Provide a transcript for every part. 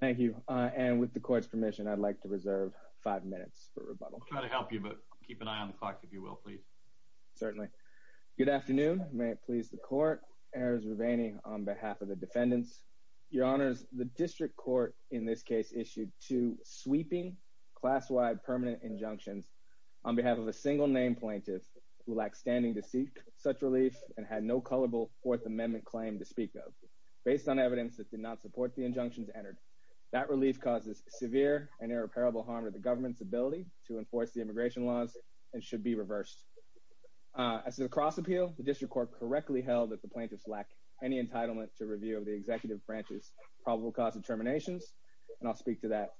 Thank you. And with the court's permission, I'd like to reserve five minutes for rebuttal. I'll try to help you, but keep an eye on the clock, if you will, please. Certainly. Good afternoon. May it please the court. Errors remaining on behalf of the defendants. Your honors, the district court in this case issued two sweeping class-wide permanent injunctions on behalf of a single-name plaintiff who lacked standing to seek such relief and had no colorable Fourth Amendment claim to speak of. Based on evidence that did not support the That relief causes severe and irreparable harm to the government's ability to enforce the immigration laws and should be reversed. As a cross appeal, the district court correctly held that the plaintiffs lack any entitlement to review of the executive branch's probable cause of terminations. And I'll speak to that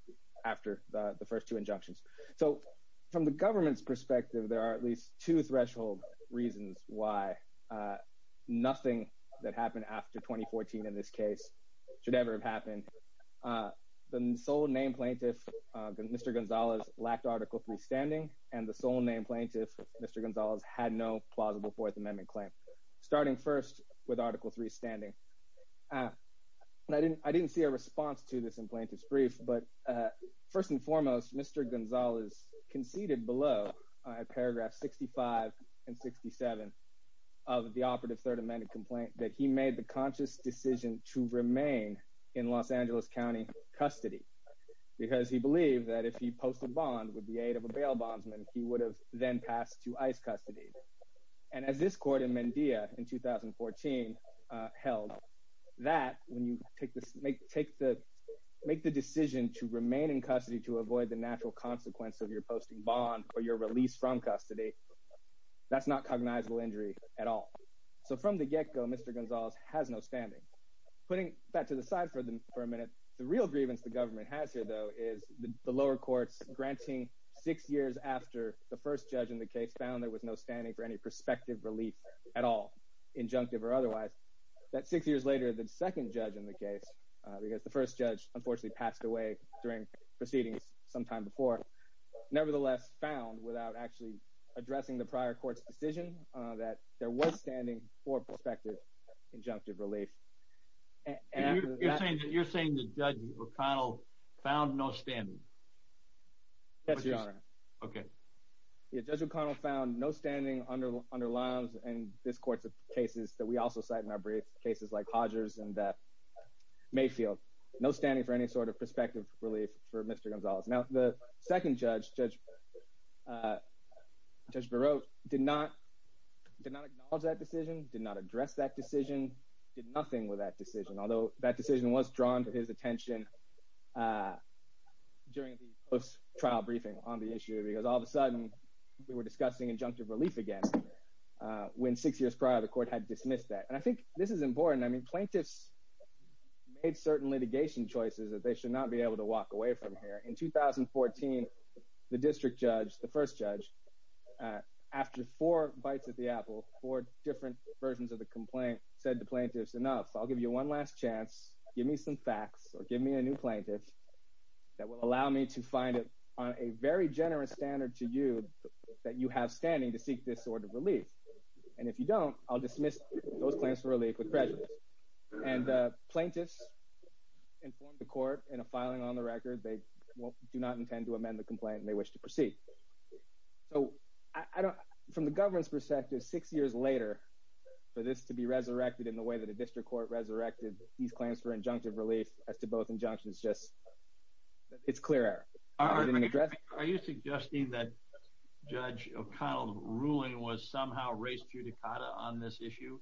after the first two injunctions. So from the government's perspective, there are at least two threshold reasons why nothing that happened after 2014 in this case should ever have happened. The sole-name plaintiff, Mr. Gonzalez, lacked Article III standing, and the sole-name plaintiff, Mr. Gonzalez, had no plausible Fourth Amendment claim, starting first with Article III standing. I didn't see a response to this in Plaintiff's Brief, but first and foremost, Mr. Gonzalez conceded below, at paragraphs 65 and 67 of the operative Third Amendment complaint, that he made the conscious decision to remain in Los Angeles County custody, because he believed that if he posted a bond with the aid of a bail bondsman, he would have then passed to ICE custody. And as this court in Mendia in 2014 held, that when you make the decision to remain in custody to avoid the natural consequence of your posting bond or your release from custody, that's not cognizable injury at all. So from the get-go, Mr. Gonzalez has no standing. Putting that to the side for a minute, the real grievance the government has here, though, is the lower courts granting six years after the first judge in the case found there was no standing for any prospective relief at all, injunctive or otherwise, that six years later, the second judge in the case, because the first judge unfortunately passed away during proceedings sometime before, nevertheless found, without actually addressing the prior court's decision, that there was standing for prospective injunctive relief. You're saying that Judge O'Connell found no standing? Yes, Your Honor. Okay. Yeah, Judge O'Connell found no standing under lines in this court's cases that we also cite in our brief, cases like Hodger's and Mayfield. No standing for any sort of prospective relief for Mr. Gonzalez. Now, the second judge, Judge Barreaux, did not acknowledge that decision, did not address that decision, did nothing with that decision, although that decision was drawn to his attention during the post-trial briefing on the issue, because all of a sudden, we were discussing injunctive relief again, when six years prior, the court had dismissed that. And I think this is important. I mean, plaintiffs made certain litigation choices that they should not be able to walk away from here. In 2014, the district judge, the first judge, after four bites of the apple, four different versions of the complaint, said to plaintiffs, enough, I'll give you one last chance, give me some facts or give me a new plaintiff that will allow me to find it on a very generous standard to you that you have standing to seek this sort of relief. And if you don't, I'll dismiss those claims for relief with prejudice. And plaintiffs informed the court in a filing on the record, they do not intend to amend the complaint and they wish to proceed. So, I don't, from the government's perspective, six years later, for this to be resurrected in the way that a district court resurrected these claims for injunctive relief as to both injunctions, just, it's clear error. Are you suggesting that Judge O'Connell's ruling was somehow on this issue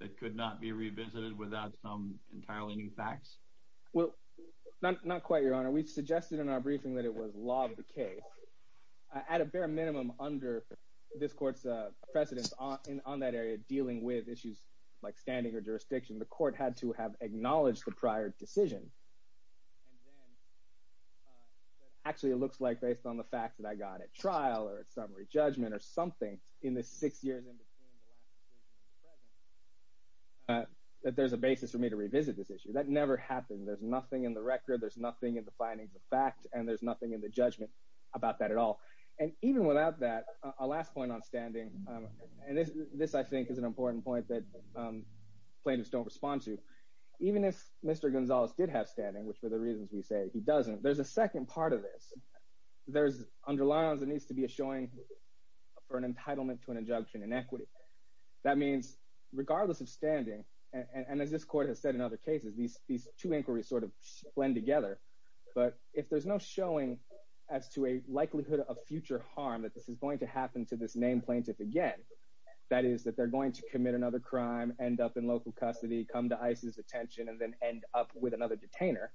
that could not be revisited without some entirely new facts? Well, not quite, Your Honor. We've suggested in our briefing that it was law of the case. At a bare minimum, under this court's precedence on that area dealing with issues like standing or jurisdiction, the court had to have acknowledged the prior decision. And then, actually, it looks like based on the facts that I got at trial or at summary judgment or something in the six years in between the last decision and the present, that there's a basis for me to revisit this issue. That never happened. There's nothing in the record, there's nothing in the findings of fact, and there's nothing in the judgment about that at all. And even without that, a last point on standing, and this, I think, is an important point that plaintiffs don't respond to. Even if Mr. Gonzalez did have standing, which, for the reasons we say, he doesn't, there's a second part of this. There's underlines there needs to be a showing for an entitlement to an injunction in equity. That means, regardless of standing, and as this court has said in other cases, these two inquiries sort of blend together. But if there's no showing as to a likelihood of future harm that this is going to happen to this named plaintiff again, that is that they're going to commit another crime, end up in local custody, come to ICE's attention, and then end up with another detainer,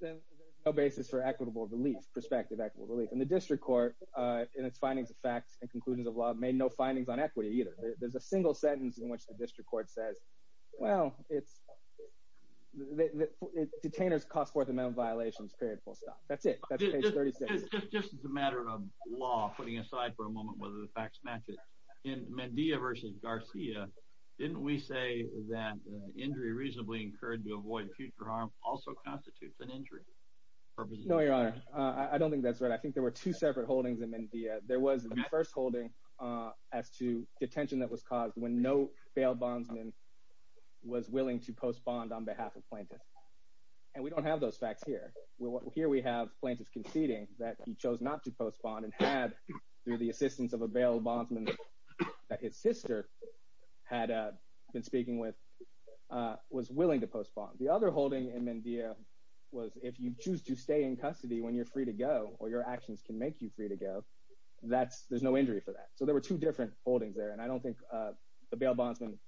then there's no basis for equitable relief, prospective equitable relief. And the district court, in its findings of fact and conclusions of law, made no findings on equity either. There's a single sentence in which the district court says, well, detainers cost fourth amendment violations, period, full stop. That's it. That's page 36. Just as a matter of law, putting aside for a moment whether the facts match it, in Mendia versus Garcia, didn't we say that injury reasonably incurred to avoid future harm also constitutes an injury? No, Your Honor. I don't think that's right. I think there were two separate holdings in Mendia. There was the first holding as to detention that was caused when no bail bondsman was willing to postpone on behalf of plaintiff. And we don't have those facts here. Here we have plaintiff conceding that he chose not to postpone and had, through the assistance of a bail bondsman that his sister had been speaking with, was willing to postpone. The other holding in Mendia was if you choose to stay in custody when you're free to go or your actions can make you free to go, there's no injury for that. So there were two different holdings there. And I don't think the bail bondsman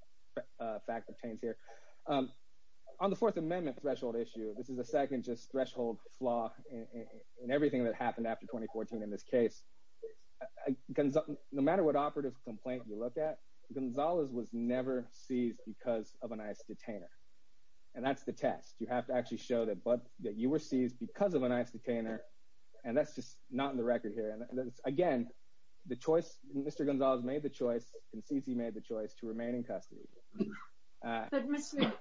fact pertains here. On the fourth amendment threshold issue, this is the second just threshold flaw in everything that happened after 2014 in this case. No matter what operative complaint you look at, Gonzalez was never seized because of an ICE detainer. And that's the test. You have to actually show that you were seized because of an ICE detainer. And that's just not in the record here. And again, the choice, Mr. Gonzalez made the choice and Cici made the choice to remain in custody. But Mr.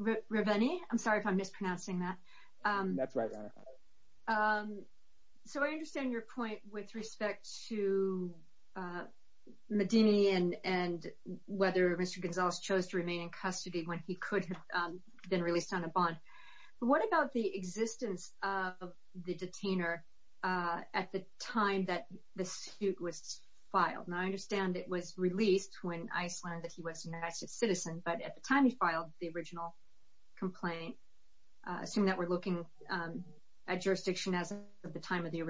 Riveni, I'm sorry if I'm mispronouncing that. That's right, Your Honor. So I understand your point with respect to Riveni and whether Mr. Gonzalez chose to remain in custody when he could have been released on a bond. But what about the existence of the detainer at the time that the suit was filed? Now, I understand it was released when ICE learned that he was an ICE citizen. But at the time he filed the original complaint, assuming that we're looking at jurisdiction as of the time of the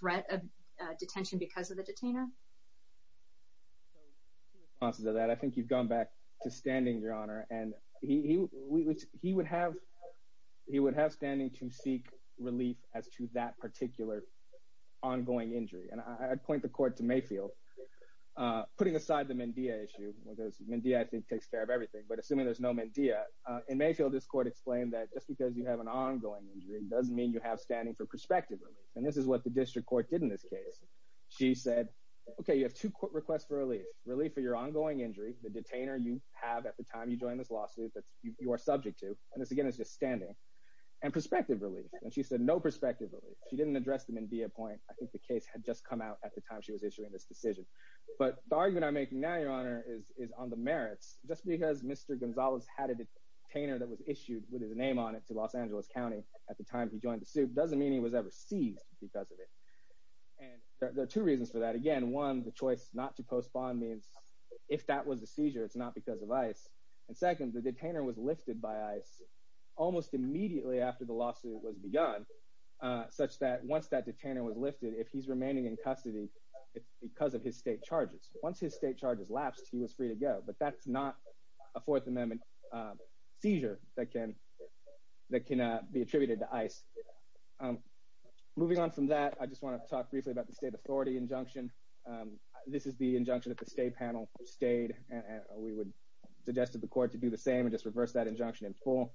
threat of detention because of the detainer? I think you've gone back to standing, Your Honor. And he would have standing to seek relief as to that particular ongoing injury. And I'd point the court to Mayfield. Putting aside the Mendea issue, because Mendea I think takes care of everything. But assuming there's no Mendea, in Mayfield, this court explained that just because you have an ongoing injury doesn't mean you have standing for prospective relief. And this is what the district court did in this case. She said, okay, you have two court requests for relief. Relief for your ongoing injury, the detainer you have at the time you joined this lawsuit that you are subject to. And this, again, is just standing. And prospective relief. And she said no prospective relief. She didn't address them in Dea Point. I think the case had just come out at the time she was issuing this decision. But the argument I'm making now, Your Honor, is on the merits. Just because Mr. Gonzalez had a detainer that was issued with his name on it to Los Angeles County at the time he joined the suit doesn't mean he was ever seized because of it. And there are two reasons for that. Again, one, the choice not to postpone means if that was the seizure, it's not because of ICE. And second, the detainer was lifted by ICE almost immediately after the lawsuit was begun, such that once that detainer was lifted, if he's remaining in custody, it's because of his state charges. Once his state charges lapsed, he was free to go. But that's not a Fourth Amendment seizure that can be attributed to ICE. Moving on from that, I just want to talk briefly about the state authority injunction. This is the injunction that the state panel stayed and we would suggest to the court to do the same and just reverse that injunction in full.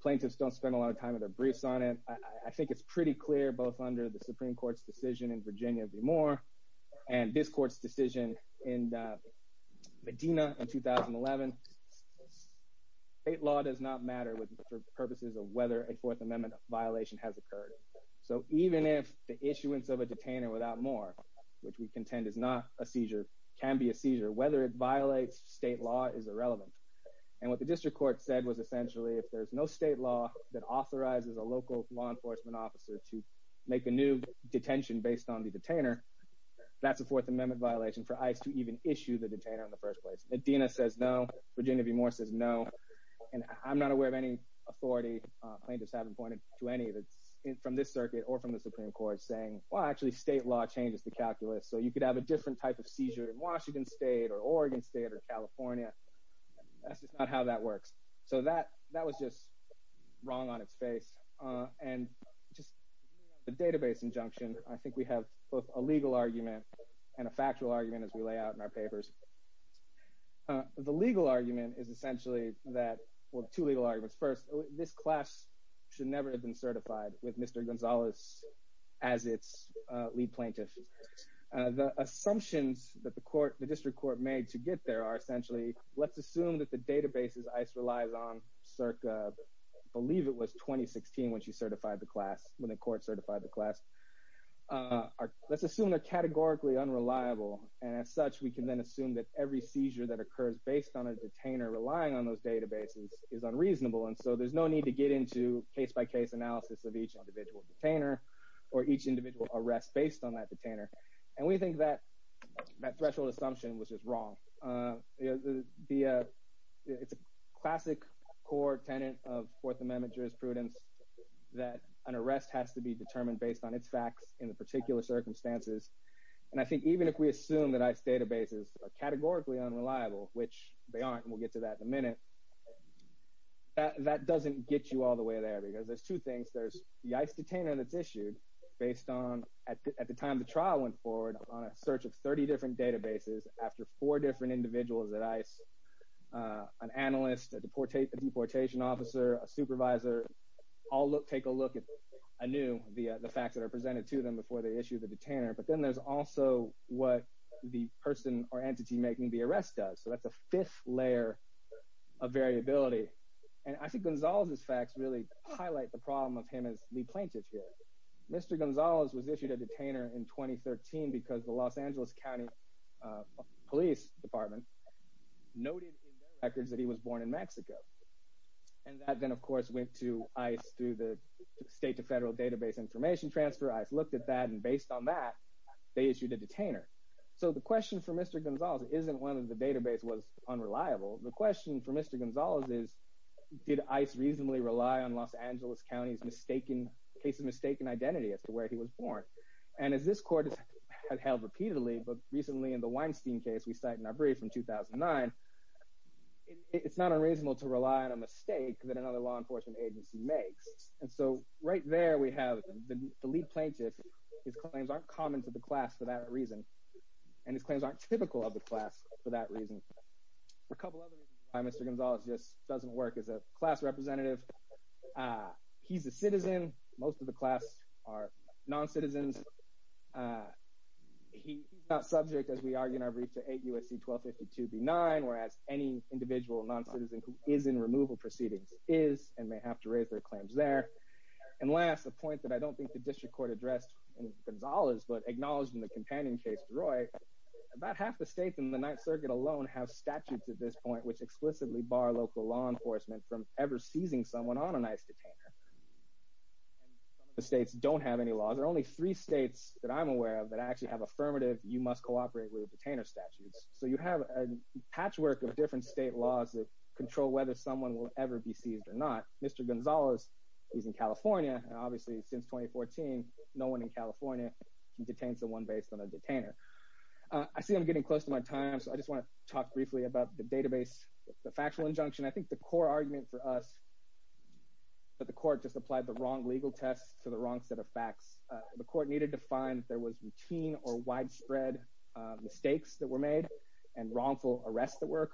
Plaintiffs don't spend a lot of time in their briefs on it. I think it's pretty clear, both under the Supreme Court's decision in Virginia v. Moore and this court's decision in Medina in 2011, state law does not matter for purposes of whether a Fourth Amendment violation has occurred. So even if the issuance of a detainer without more, which we contend is not a seizure, can be a seizure, whether it violates state law is irrelevant. And what the district court said was essentially if there's no state law that authorizes a local law enforcement officer to make a new detention based on the detainer, that's a Fourth Amendment violation for ICE to even issue the detainer in the first place. Medina says no, Virginia v. Moore says no. And I'm not aware of any authority, plaintiffs haven't pointed to any from this circuit or from the Supreme Court saying, well, actually state law changes the calculus. So you could have a different type of seizure in Washington state or Oregon state or California. That's just not how that works. So that was just wrong on its face. And just the database injunction, I think we have both a legal argument and a factual argument as we lay out in our papers. The legal argument is essentially that, well, two legal arguments. First, this class should never have been certified with Mr. Gonzalez as its lead plaintiff. The assumptions that the court, the district court made to get there are essentially, let's assume that the databases ICE relies on circa, I believe it was 2016 when she certified the class, when the court certified the class. Let's assume they're categorically unreliable. And as such, we can then assume that every seizure that occurs based on a detainer relying on those databases is unreasonable. And so there's no need to get into case by case analysis of each individual detainer or each individual arrest based on that detainer. And we think that threshold assumption was just wrong. It's a classic core tenant of Fourth Amendment jurisprudence that an arrest has to be determined based on its facts in the particular circumstances. And I think even if we assume that ICE databases are categorically unreliable, which they aren't, and we'll get to that in a minute, that doesn't get you all the way there because there's two things. There's the ICE detainer that's issued based on, at the time the trial went forward, on a search of 30 different databases after four different individuals at ICE, an analyst, a deportation officer, a supervisor, all take a look at anew via the facts that are presented to them before they issue the detainer. But then there's also what the person or entity making the arrest does. So that's a fifth layer of variability. And I think Gonzalez's facts really highlight the problem of him as the plaintiff here. Mr. Gonzalez was issued a detainer in 2013 because the Los Angeles County Police Department noted in their records that he was born in Mexico. And that then of course went to ICE through the state to federal database information transfer. ICE looked at that and based on that, they issued a detainer. So the question for Mr. Gonzalez isn't whether the database was unreliable. The question for Mr. Gonzalez is, did ICE reasonably rely on Los Angeles County's case of mistaken identity as to where he was born? And as this court has held repeatedly, but recently in the Weinstein case we cite in our brief from 2009, it's not unreasonable to rely on a mistake that another law enforcement agency makes. And so right there we have the plaintiff. His claims aren't common to the class for that reason. And his claims aren't typical of the class for that reason. A couple other reasons why Mr. Gonzalez just doesn't work as a class representative. He's a citizen. Most of the class are non-citizens. He's not subject, as we argue in our brief, to 8 U.S.C. 1252 B-9, whereas any individual non-citizen who is in removal proceedings is and may have to raise their claims there. And last, a point that I don't think the district court addressed in Gonzalez, but acknowledged in the companion case, DeRoy, about half the states in the Ninth Circuit alone have statutes at this point which explicitly bar local law enforcement from ever seizing someone on an ICE detainer. Some of the states don't have any laws. There are only three states that I'm aware of that actually have affirmative, you must cooperate with detainer statutes. So you have a patchwork of different state laws that control whether someone will ever be seized or not. Mr. Gonzalez is in California, and obviously since 2014, no one in California can detain someone based on a detainer. I see I'm getting close to my time, so I just want to talk briefly about the database, the factual injunction. I think the core argument for us that the court just applied the wrong legal test to the wrong set of facts. The court needed to find if there was routine or widespread mistakes that were made and wrongful arrests that were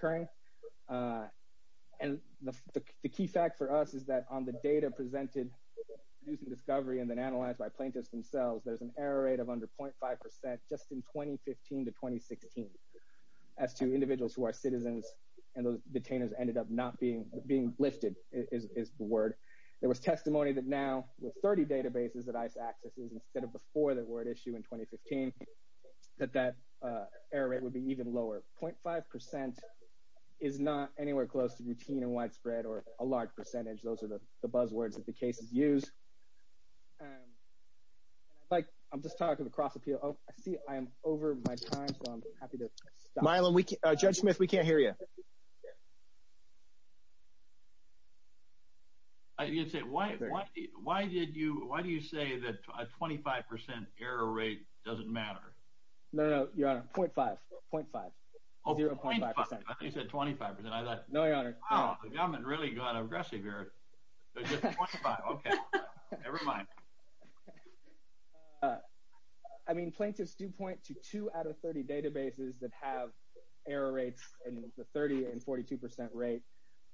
The key fact for us is that on the data presented using discovery and then analyzed by plaintiffs themselves, there's an error rate of under 0.5 percent just in 2015 to 2016 as to individuals who are citizens and those detainers ended up not being being lifted is the word. There was testimony that now with 30 databases that ICE accesses instead of before that were at issue in 2015, that that error rate would be even lower. 0.5 percent is not anywhere close to routine and spread or a large percentage. Those are the buzzwords that the cases use. I'm just talking across appeal. I see I'm over my time, so I'm happy to judge Smith. We can't hear you. You'd say, Why? Why? Why did you? Why do you say that 25 percent error rate doesn't matter? No, no, your honor. 0.5. 0.5. 0.5 percent. You said 25 percent. No, your honor. Oh, the government really got aggressive here. Okay, never mind. I mean, plaintiffs do point to two out of 30 databases that have error rates in the 30 and 42 percent rate.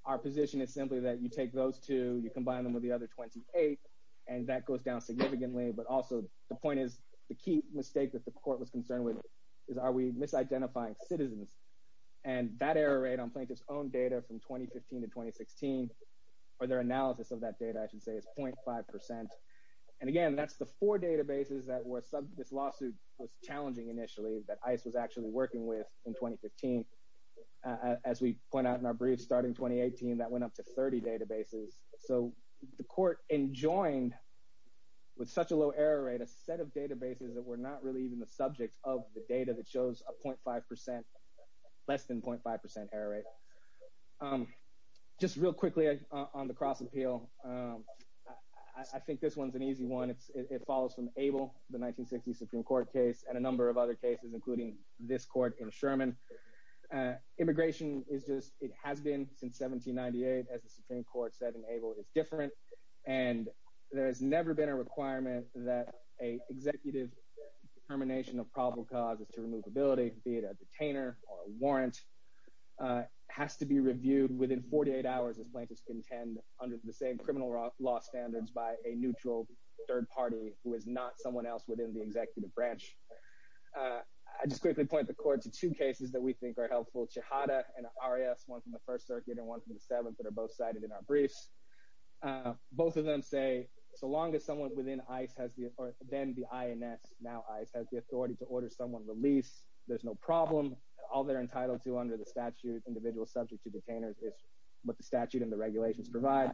Our position is simply that you take those two, you combine them with the other 28, and that goes down significantly. But also the point is the key mistake that the court was concerned with is are we misidentifying citizens? And that error rate on plaintiff's own data from 2015 to 2016 or their analysis of that data, I should say, is 0.5 percent. And again, that's the four databases that this lawsuit was challenging initially that ICE was actually working with in 2015. As we point out in our brief starting 2018, that went up to 30 databases. So the court enjoined with such a low error rate, a set of databases that were not really even the subject of the data that shows a 0.5 percent, less than 0.5 percent error rate. Just real quickly on the cross-appeal, I think this one's an easy one. It follows from Abel, the 1960 Supreme Court case, and a number of other cases, including this court in Sherman. Immigration is just, it has been since 1798. As the Supreme Court said in Abel, it's different. And there has never been a requirement that an executive determination of probable cause as to removability, be it a detainer or a warrant, has to be reviewed within 48 hours as plaintiffs contend under the same criminal law standards by a neutral third party who is not someone else within the executive branch. I just quickly point the court to two cases that we think are helpful, Chihadah and Arias, one from the First Circuit and one from the Seventh that are both cited in our briefs. Both of them say, so long as someone within ICE has the, or then the INS, now ICE, has the authority to order someone released, there's no problem. All they're entitled to under the statute, individual subject to detainers, is what the statute and the regulations provide.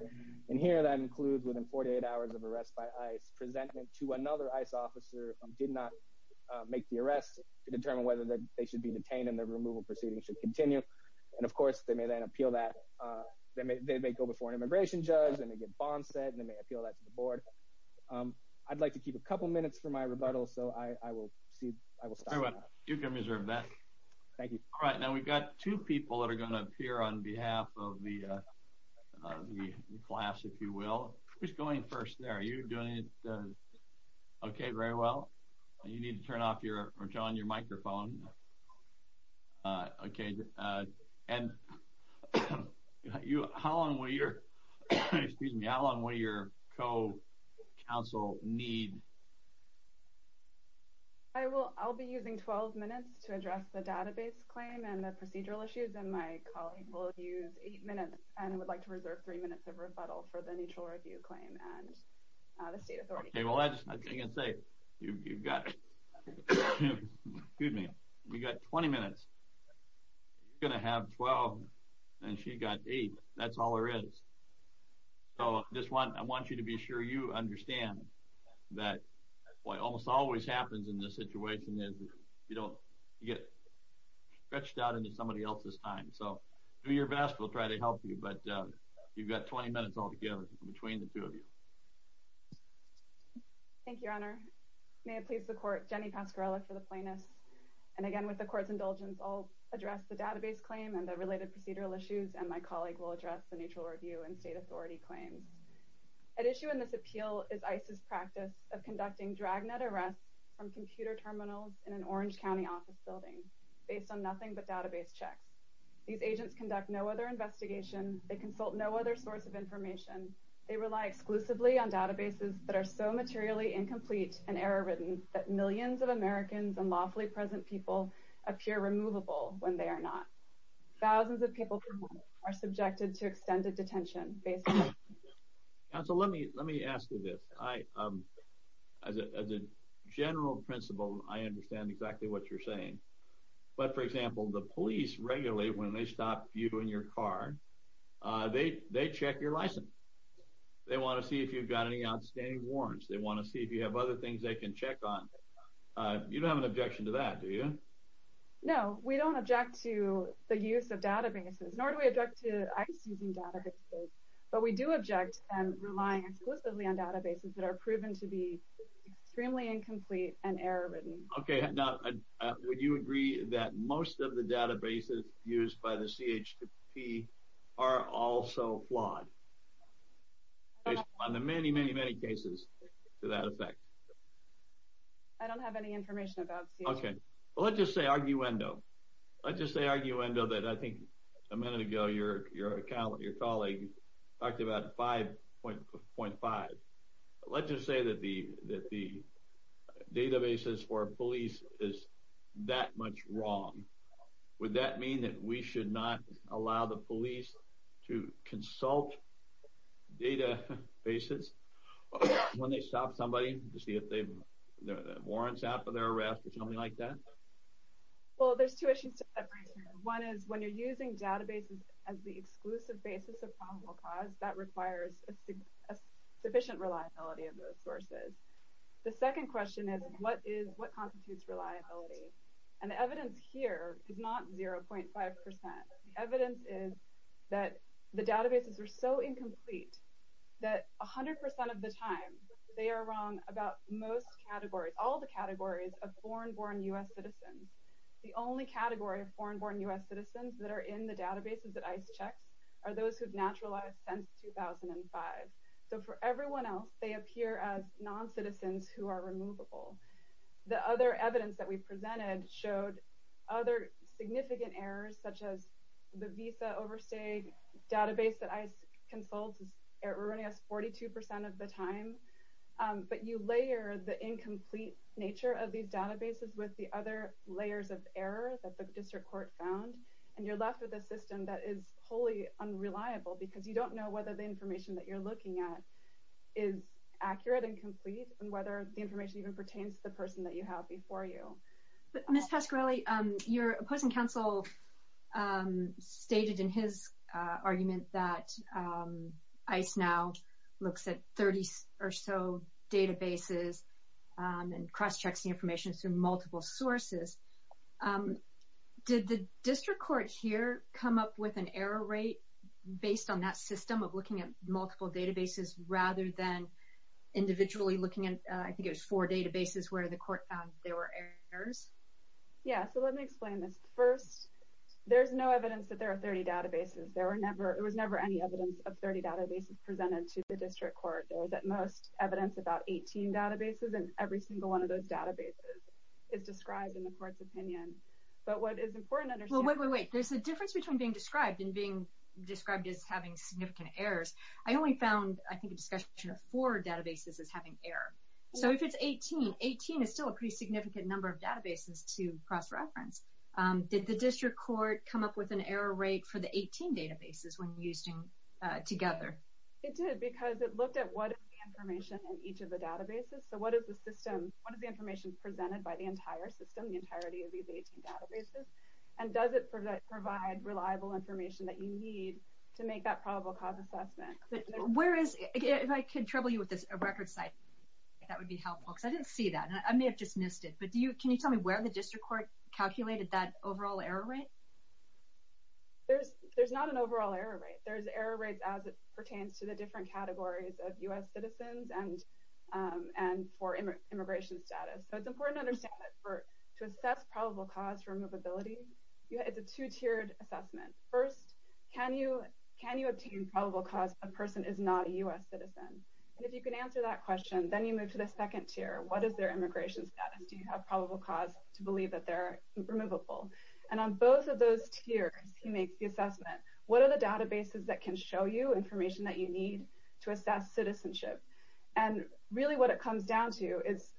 And here that includes within 48 hours of arrest by ICE, presentment to another ICE officer who did not make the arrest to determine whether they should be detained and the removal proceeding should continue. And of course, they may then appeal that. They may go before an immigration judge and they get bond set and they may appeal that to the board. I'd like to keep a couple minutes for my rebuttal, so I will see, I will stop. You can reserve that. Thank you. All right, now we've got two people that are going to appear on behalf of the class, if you will. Who's going first there? Are you doing it okay, very well? You need to turn off your, or turn on your microphone. Okay, and you, how long will your, excuse me, how long will your co-counsel need? I will, I'll be using 12 minutes to address the database claim and the procedural issues, and my colleague will use eight minutes and would like to reserve three minutes of rebuttal for the neutral review claim and the state authority. Okay, well that's, I can say, you've got, excuse me, you've got 20 minutes. You're going to have 12 and she got eight, that's all there is. So just want, I want you to be sure you understand that what almost always happens in this situation is you don't, you get stretched out into somebody else's time. So do your best, we'll try to help you, but you've got 20 minutes altogether between the two of you. Thank you, your honor. May it please the court, Jenny Pasquarello for the plaintiffs, and again with the court's indulgence, I'll address the database claim and the related procedural issues, and my colleague will address the neutral review and state authority claims. At issue in this appeal is ICE's practice of conducting dragnet arrests from computer terminals in an Orange County office building based on nothing but database checks. These agents conduct no other investigation, they consult no other source of information, they rely exclusively on databases that are so materially incomplete and error-ridden that millions of Americans and lawfully present people appear removable when they are not. Thousands of people are subjected to extended detention based on... Counsel, let me, let me ask you this. I, as a general principle, I understand exactly what you're saying, but for example, the police regularly, when they stop you in your car, they, they check your license. They want to see if you've got any outstanding warrants, they want to see if you have other things they can check on. You don't have an objection to that, do you? No, we don't object to the use of databases, nor do we object to ICE using databases, but we do object to them relying exclusively on databases that are proven to be extremely incomplete and error-ridden. Okay, now, would you agree that most of the databases used by the CHP are also flawed, based on the many, many, many cases to that effect? I don't have any information about... Okay, well, let's just say arguendo. Let's just say arguendo that I think a minute ago your, your colleague talked about 5.5. Let's just say that the, that the databases for police is that much wrong. Would that mean that we should not allow the police to consult databases when they stop somebody to see if they've, their, their warrants out for their arrest or something like that? Well, there's two issues to separate here. One is, when you're using databases as the exclusive basis of probable cause, that requires a sufficient reliability of those sources. The second question is, what is, what constitutes reliability? And the evidence here is not 0.5%. The evidence is that the databases are so incomplete that 100% of the time they are wrong about most categories, all the categories of foreign-born U.S. citizens. The only category of foreign-born U.S. citizens that are in the database is 2005. So for everyone else, they appear as non-citizens who are removable. The other evidence that we presented showed other significant errors, such as the visa overstay database that ICE consults is erroneous 42% of the time. But you layer the incomplete nature of these databases with the other layers of error that the district court found, and you're left with a system that is wholly unreliable because you don't know whether the information that you're looking at is accurate and complete and whether the information even pertains to the person that you have before you. But Ms. Pasquarelli, your opposing counsel stated in his argument that ICE now looks at 30 or so databases and cross-checks the information through multiple sources. Did the district court here come up with an error rate based on that system of looking at multiple databases rather than individually looking at, I think it was four databases, where the court found there were errors? Yeah, so let me explain this. First, there's no evidence that there are 30 databases. There were never, there was never any evidence of 30 databases presented to the district court. There was at most evidence about 18 databases, and every single one of those databases is described in the court's opinion. But what is important to understand... There's a difference between being described and being described as having significant errors. I only found, I think, a discussion of four databases as having error. So if it's 18, 18 is still a pretty significant number of databases to cross-reference. Did the district court come up with an error rate for the 18 databases when used together? It did because it looked at what is the information in each of the databases, so what is the system, what is the information presented by the entire system, the entirety of the 18 databases, and does it provide reliable information that you need to make that probable cause assessment? Where is, if I can trouble you with this, a record site, that would be helpful, because I didn't see that. I may have just missed it, but can you tell me where the district court calculated that overall error rate? There's not an overall error rate. There's error rates as it pertains to the different categories of U.S. citizens and for immigration status. So it's important to understand that to assess probable cause removability, it's a two-tiered assessment. First, can you obtain probable cause if a person is not a U.S. citizen? And if you can answer that question, then you move to the second tier. What is their immigration status? Do you have probable cause to believe that they're removable? And on both of those tiers, he makes the assessment. What are the databases that can show you information that you need to assess citizenship? And really what it comes down to is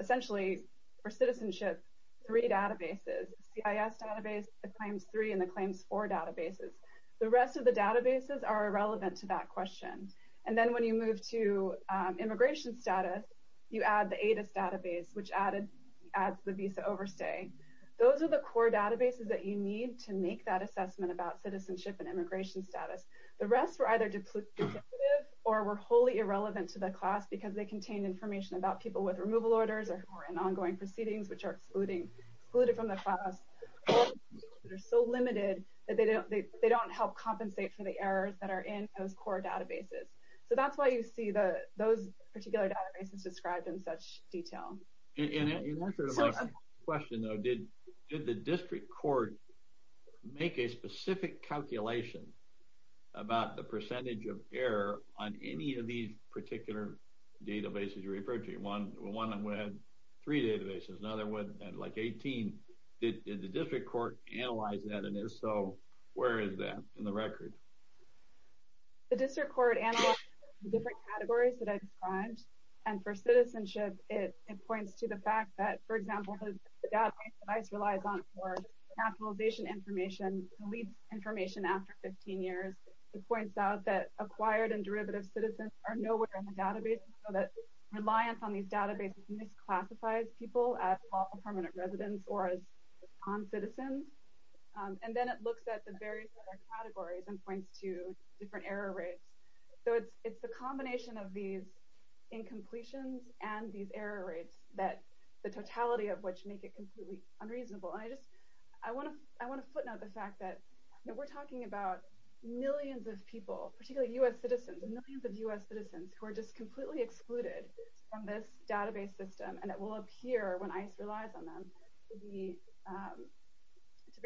essentially for citizenship, three databases, the CIS database, the Claims 3, and the Claims 4 databases. The rest of the databases are irrelevant to that question. And then when you move to immigration status, you add the ADIS database, which adds the visa overstay. Those are the core databases that you need to make that assessment about citizenship and immigration status. The rest were either duplicative or were wholly irrelevant to the class because they contained information about people with removal orders or who were in ongoing proceedings which are excluded from the class. They're so limited that they don't help compensate for the errors that are in those core databases. So that's why you see those particular databases described in such detail. And in answer to the last question, though, did the district court make a specific calculation about the percentage of error on any of these particular databases you referred to? One had three databases, another had like 18. Did the district court analyze that? And if so, where is that in the record? The district court analyzed the different categories that I described. And for citizenship, it points to the fact that, for example, the database relies on more capitalization information and deletes information after 15 years. It points out that acquired and derivative citizens are nowhere in the database, so that reliance on these databases misclassifies people as lawful permanent residents or as non-citizens. And then it looks at the various other categories and points to different error rates. So it's the combination of these incompletions and these error rates, the totality of which make it completely unreasonable. I want to footnote the fact that we're talking about millions of people, particularly U.S. citizens, millions of U.S. citizens, who are just completely excluded from this database system. And it will appear, when ICE relies on them, to be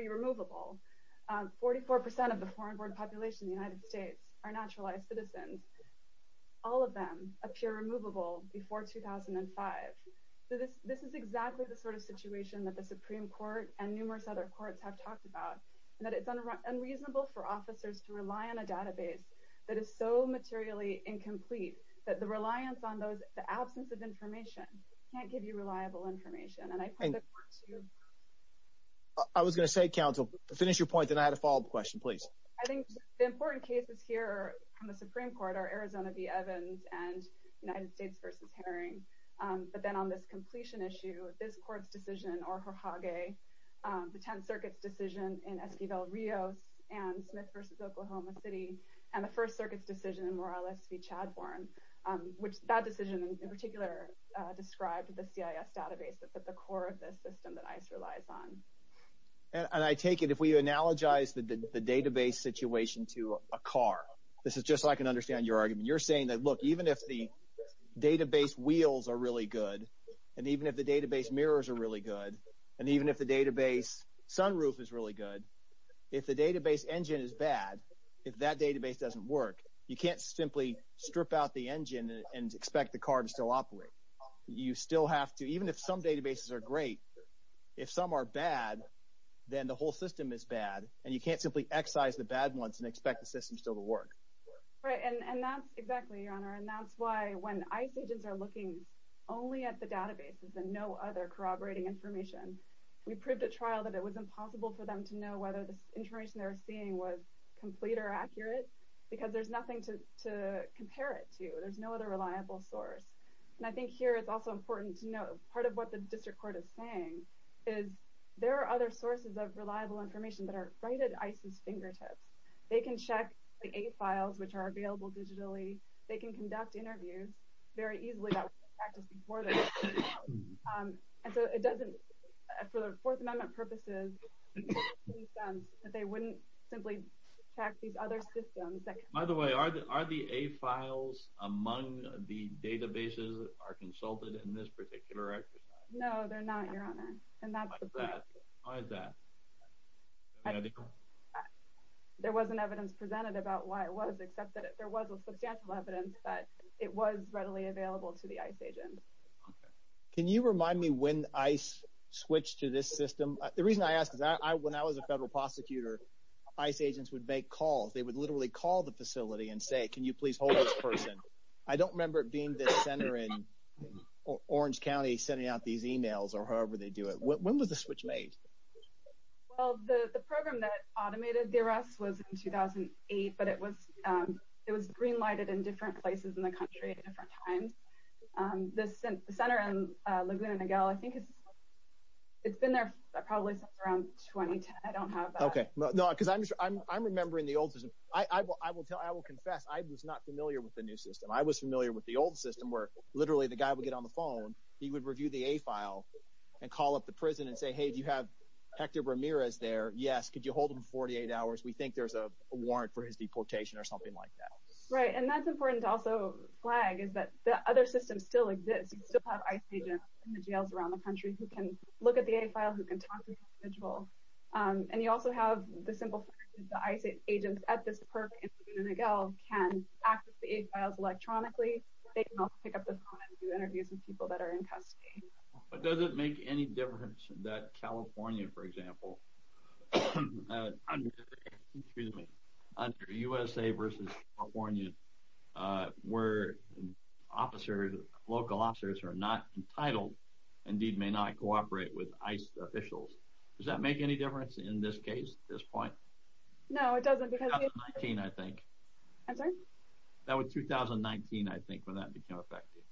removable. 44% of the foreign board population in the United States are naturalized citizens. All of them appear removable before 2005. So this is exactly the sort of situation that the Supreme Court and numerous other courts have talked about, and that it's unreasonable for officers to rely on a database that is so materially incomplete that the reliance on those, the absence of information, can't give you reliable information. And I think that points to your point. I was going to say, counsel, finish your point, then I had a follow-up question, please. I think the important cases here from the Supreme Court are Arizona v. Evans and United States v. Herring. But then on this completion issue, this court's decision in Oaxaca, the 10th Circuit's decision in Esquivel-Rios and Smith v. Oklahoma City, and the First Circuit's decision in Morales v. Chadhorn, which that decision in particular described the CIS database that's at the core of this system that ICE relies on. And I take it if we analogize the database situation to a car, this is just so I can understand your argument. You're saying that, look, even if the database wheels are really good, and even if the database mirrors are really good, and even if the database sunroof is really good, if the database engine is bad, if that database doesn't work, you can't simply strip out the engine and expect the car to still operate. You still have to, even if some databases are great, if some are bad, then the whole system is bad, and you can't simply excise the bad ones and expect the system still to work. Right, and that's exactly, Your Honor, and that's why when ICE agents are looking only at the databases and no other corroborating information, we proved at trial that it was impossible for them to know whether the information they were seeing was complete or accurate, because there's nothing to compare it to. There's no other reliable source. And I think here it's also important to note part of what the district court is saying is there are other sources of reliable information that are right at ICE's fingertips. They can check the A-files, which are available digitally. They can conduct interviews very easily that weren't practiced before the trial. And so it doesn't, for the Fourth Amendment purposes, it doesn't make any sense that they wouldn't simply check these other systems that can Are the A-files among the databases that are consulted in this particular exercise? No, they're not, Your Honor. Why is that? There wasn't evidence presented about why it was, except that there was substantial evidence that it was readily available to the ICE agents. Can you remind me when ICE switched to this system? The reason I ask is that when I was a federal prosecutor, ICE agents would make calls. They would literally call the facility and say, can you please hold this person? I don't remember it being the center in Orange County sending out these emails or however they do it. When was the switch made? Well, the program that automated the arrest was in 2008, but it was green-lighted in different places in the country at different times. The center in Laguna Niguel, I think it's been there probably since around 2010. I don't have that. Because I'm remembering the old system. I will confess, I was not familiar with the new system. I was familiar with the old system where literally the guy would get on the phone, he would review the A-file and call up the prison and say, hey, do you have Hector Ramirez there? Yes. Could you hold him for 48 hours? We think there's a warrant for his deportation or something like that. Right. And that's important to also flag is that the other system still exists. You still have ICE agents in the jails around the country who can look at the A-file, who can talk to the A-file. The ICE agents at this park in Laguna Niguel can access the A-files electronically. They can also pick up the phone and do interviews with people that are in custody. But does it make any difference that California, for example, under USA versus California, where local officers are not entitled, indeed may not cooperate with ICE officials, does that make any difference in this case, this point? No, it doesn't. That was 2019, I think, when that became effective.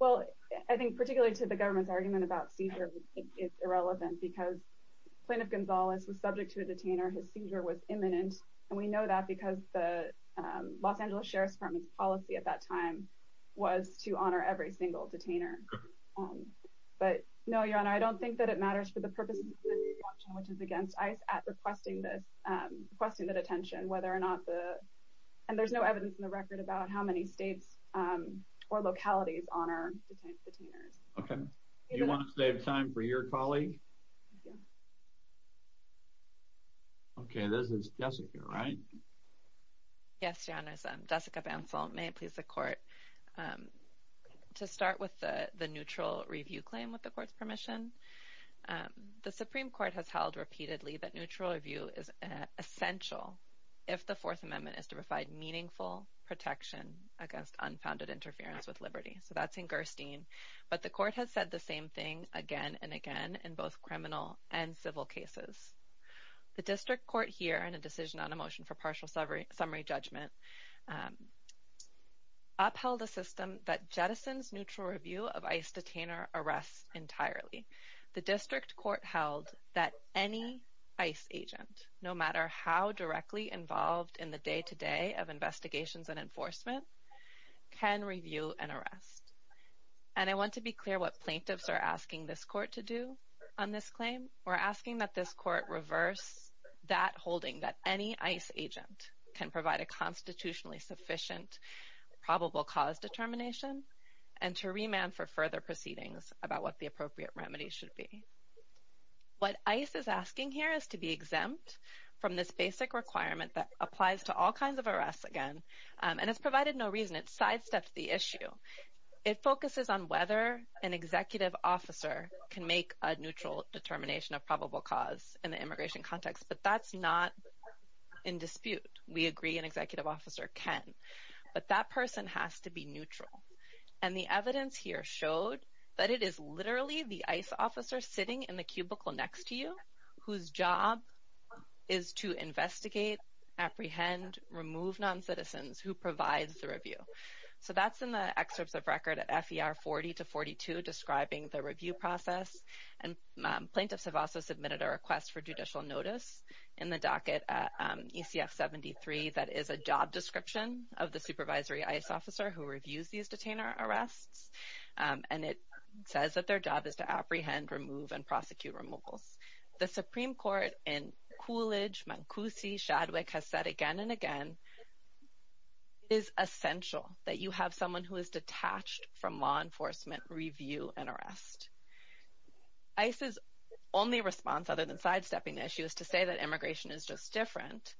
Well, I think particularly to the government's argument about seizure, it's irrelevant because Plaintiff Gonzalez was subject to a detainer. His seizure was imminent. And we know that because the Los Angeles Sheriff's Department's policy at that time was to honor every single detainer. But no, Your Honor, I don't think that it matters for the purposes of this option, which is against ICE at requesting this, requesting the detention, whether or not the... And there's no evidence in the record about how many states or localities honor detainers. Okay. Do you want to save time for your colleague? Okay, this is Jessica, right? Yes, Your Honor, it's Jessica Bansal. May it please the Court. To start with the neutral review claim with the Court's permission, the Supreme Court has held repeatedly that neutral review is essential if the Fourth Amendment is to provide meaningful protection against unfounded interference with liberty. So that's in Gerstein. But the Court has said the same thing again and again in both criminal and civil cases. The District Court here, in a decision on a motion for partial summary judgment, upheld a system that jettisons neutral review of ICE detainer arrests entirely. The District Court held that any ICE agent, no matter how directly involved in the day-to-day of investigations and enforcement, can review an arrest. And I want to be clear what plaintiffs are asking this Court to do on this claim. We're asking that this Court reverse that holding that any ICE agent can provide a constitutionally sufficient probable cause determination and to remand for further proceedings about what the appropriate remedy should be. What ICE is asking here is to be exempt from this basic requirement that applies to all kinds of arrests again. And it's provided no reason. It sidestepped the issue. It focuses on whether an executive officer can make a neutral determination of probable cause in the immigration context. But that's not in dispute. We agree an executive officer can. But that person has to be neutral. And the evidence here showed that it is literally the ICE officer sitting in the cubicle next to you whose job is to investigate, apprehend, remove non-citizens, who provides the review. So that's in the excerpts of record at FER 40 to 42 describing the review process. And plaintiffs have also submitted a request for judicial notice in the docket at ECF 73 that is a job description of the supervisory ICE officer who reviews these detainer arrests. And it says that their job is to apprehend, remove, and prosecute removals. The Supreme Court in Coolidge, Mancusi, Shadwick has said again and again, it is essential that you have someone who is detached from law enforcement review an arrest. ICE's only response, other than sidestepping the issue, is to say that immigration is just different.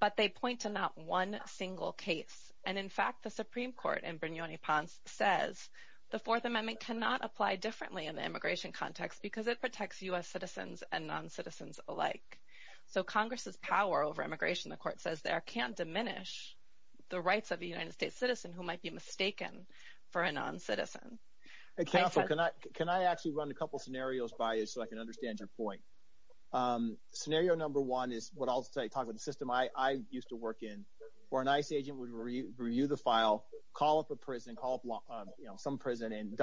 But they point to not one single case. And in fact, the Supreme Court in Brignoni-Ponce says the Fourth Amendment cannot apply differently in the immigration context because it protects U.S. citizens and non-citizens alike. So Congress's power over immigration, the Court says there, can't diminish the rights of a United States citizen who might be mistaken for a non-citizen. Hey, careful. Can I actually run a couple scenarios by you so I can understand your point? Scenario number one is what I'll say, talk about the system I used to work in, where an ICE agent would review the file, call up a prison, call up, you know, some prison in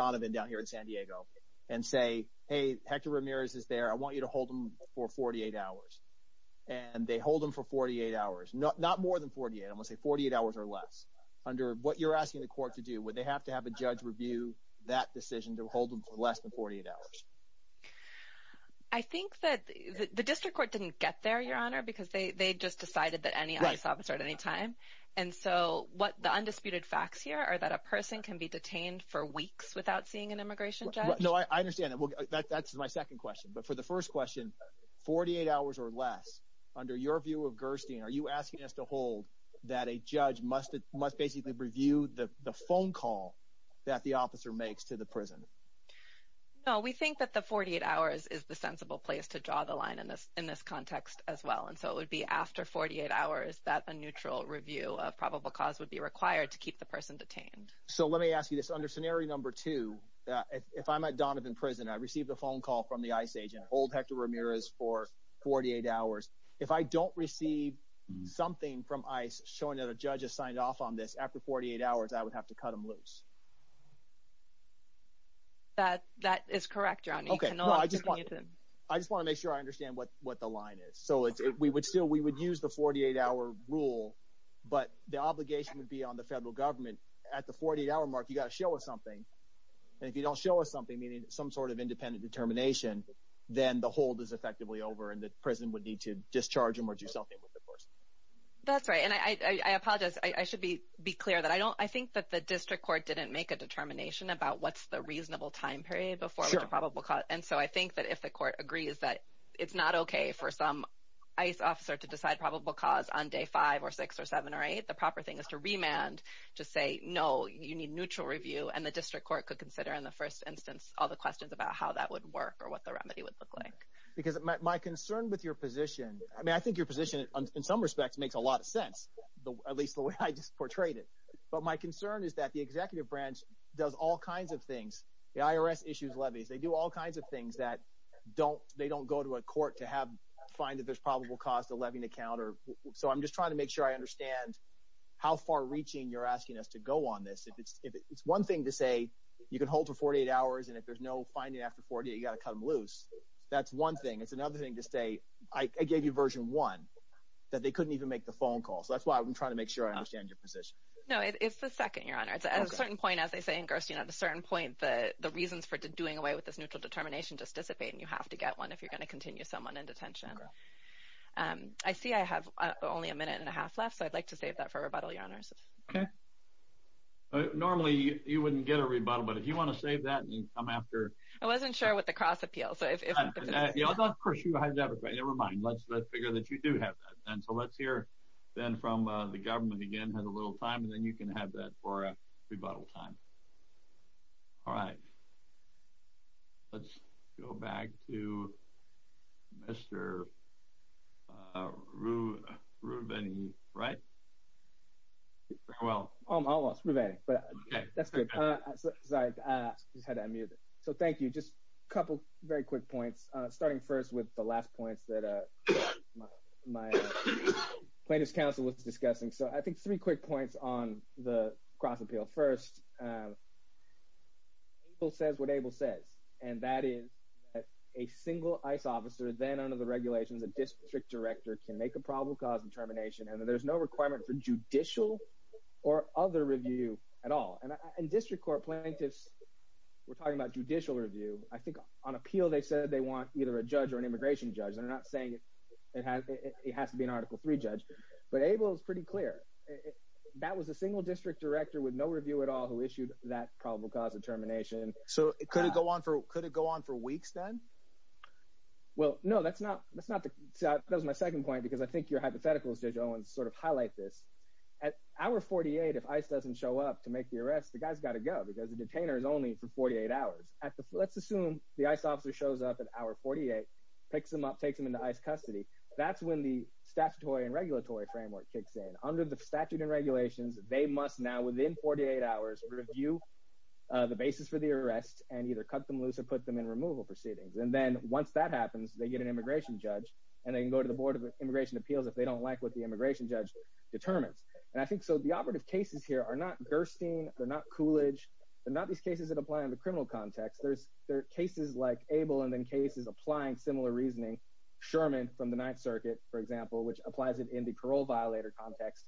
Hector Ramirez is there, I want you to hold them for 48 hours. And they hold them for 48 hours, not more than 48, I'm going to say 48 hours or less. Under what you're asking the court to do, would they have to have a judge review that decision to hold them for less than 48 hours? I think that the district court didn't get there, Your Honor, because they just decided that any ICE officer at any time. And so what the undisputed facts here are that a person can be detained for weeks without seeing an immigration judge. No, I understand that. That's my second question. But for the first question, 48 hours or less, under your view of Gerstein, are you asking us to hold that a judge must basically review the phone call that the officer makes to the prison? No, we think that the 48 hours is the sensible place to draw the line in this context as well. And so it would be after 48 hours that a neutral review of probable cause would be required to keep the person detained. So let me ask you this. Under scenario number two, if I'm at Donovan Prison, I received a phone call from the ICE agent, hold Hector Ramirez for 48 hours. If I don't receive something from ICE showing that a judge has signed off on this after 48 hours, I would have to cut him loose. That is correct, Your Honor. I just want to make sure I understand what the line is. So we would use the 48-hour rule, but the obligation would be on the federal government. At the 48-hour mark, you've got to show us something. And if you don't show us something, meaning some sort of independent determination, then the hold is effectively over and the prison would need to discharge him or do something with the person. That's right. And I apologize. I should be clear that I think that the district court didn't make a determination about what's the reasonable time period before the probable cause. And so I think that if the court agrees that it's not OK for some ICE officer to decide probable cause on day five or six or seven or eight, the proper thing is to remand to say, no, you need neutral review. And the district court could consider in the first instance, all the questions about how that would work or what the remedy would look like. Because my concern with your position, I mean, I think your position in some respects makes a lot of sense, at least the way I just portrayed it. But my concern is that the executive branch does all kinds of things. The IRS issues levies. They do all kinds of things that don't they don't go to a court to have find that there's probable cause to levy the counter. So I'm just trying to make sure I understand how far reaching you're asking us to go on this. If it's if it's one thing to say you can hold for 48 hours and if there's no finding after 40, you've got to cut them loose. That's one thing. It's another thing to say. I gave you version one that they couldn't even make the phone call. So that's why I'm trying to make sure I understand your position. No, it's the second your honor. It's at a certain point, as they say, the reasons for doing away with this neutral determination just dissipate and you have to get one if you're going to continue someone in detention. I see I have only a minute and a half left, so I'd like to save that for rebuttal. Normally, you wouldn't get a rebuttal, but if you want to save that and come after, I wasn't sure what the cross appeal. So if you have never mind, let's let's figure that you do have that. And so let's hear then from the government again has a little time and then you can have that for a rebuttal time. All right. Let's go back to Mr. Ruveni, right? Well, I lost Ruveni, but that's good. Sorry, I just had to unmute it. So thank you. Just a couple very quick points, starting first with the last points that my plaintiff's counsel was discussing. So I think three quick points on the ABLE says what ABLE says, and that is that a single ICE officer, then under the regulations, a district director can make a probable cause determination and that there's no requirement for judicial or other review at all. And district court plaintiffs were talking about judicial review. I think on appeal, they said they want either a judge or an immigration judge. They're not saying it has to be an article three judge. But ABLE is pretty clear that was a single district director with no review at all who issued that probable cause determination. So could it go on for could it go on for weeks then? Well, no, that's not that's not that was my second point, because I think your hypotheticals, Judge Owens, sort of highlight this. At hour 48, if ICE doesn't show up to make the arrest, the guy's got to go because the detainer is only for 48 hours. Let's assume the ICE officer shows up at hour 48, picks him up, takes him into ICE custody. That's when the statutory and regulatory framework kicks in. Under the statute and regulations, they must now within 48 hours, review the basis for the arrest and either cut them loose or put them in removal proceedings. And then once that happens, they get an immigration judge, and they can go to the Board of Immigration Appeals if they don't like what the immigration judge determines. And I think so the operative cases here are not Gerstein, they're not Coolidge, they're not these cases that apply in the criminal context. There's there are cases like ABLE and then cases applying similar reasoning. Sherman from the Ninth Circuit, for example, which applies it in the parole violator context.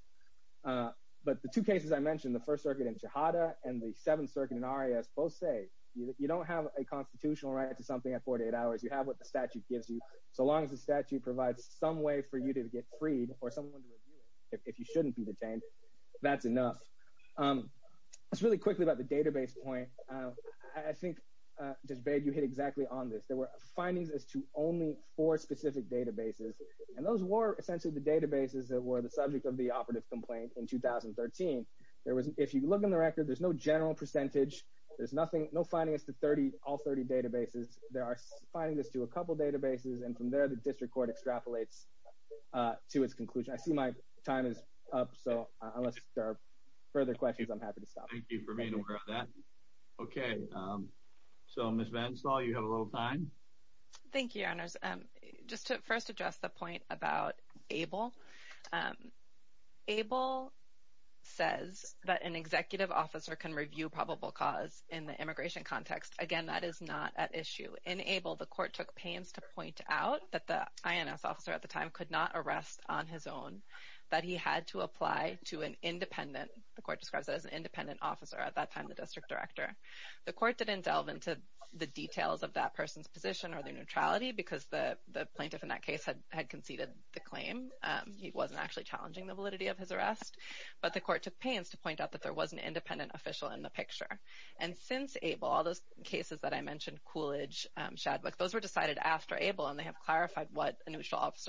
But the two cases I mentioned, the First Circuit in Chehada and the Seventh Circuit in RIS both say you don't have a constitutional right to something at 48 hours, you have what the statute gives you. So long as the statute provides some way for you to get freed or someone to review it, if you shouldn't be detained, that's enough. Let's really quickly about the database point. I think, Judge Bade, you hit exactly on this. There were findings as to only four specific databases. And those were essentially the databases that were the subject of the operative complaint in 2013. If you look in the record, there's no general percentage. There's nothing, no findings to all 30 databases. There are findings to a couple databases. And from there, the district court extrapolates to its conclusion. I see my time is up. So unless there are further questions, I'm happy to stop. Thank you for being aware of that. Okay. So, Ms. VanStall, you have a little time. Thank you, Your Honors. Just to first address the point about ABLE. ABLE says that an executive officer can review probable cause in the immigration context. Again, that is not at issue. In ABLE, the court took pains to point out that the INS officer at the time could not arrest on his own, that he had to apply to an independent, the court describes it as an independent officer at that time, the district director. The court didn't delve into the details of that person's position or their neutrality because the plaintiff in that case had conceded the claim. He wasn't actually challenging the validity of his arrest. But the court took pains to point out that there was an independent official in the picture. And since ABLE, all those cases that I mentioned, Coolidge, Shadwick, those were decided after ABLE, and they have clarified what anything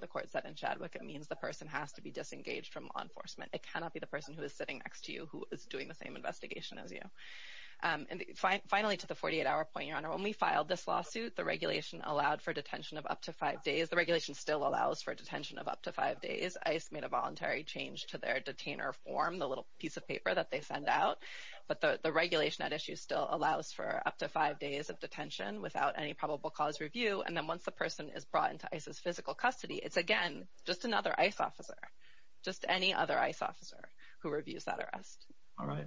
the court said in Shadwick. It means the person has to be disengaged from law enforcement. It cannot be the person who is sitting next to you who is doing the same investigation as you. And finally, to the 48-hour point, Your Honor, when we filed this lawsuit, the regulation allowed for detention of up to five days. The regulation still allows for detention of up to five days. ICE made a voluntary change to their detainer form, the little piece of paper that they send out. But the regulation at issue still allows for up to five days of detention without any probable cause review. And then once the person is brought into ICE's physical custody, it's, again, just another ICE officer, just any other ICE officer who reviews that arrest. All right.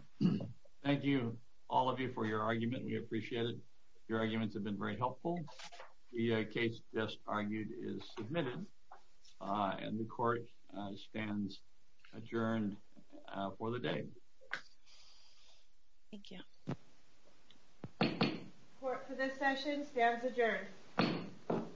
Thank you, all of you, for your argument. We appreciate it. Your arguments have been very helpful. The case just argued is submitted, and the court stands adjourned for the day. Thank you. Court, for this session, stands adjourned.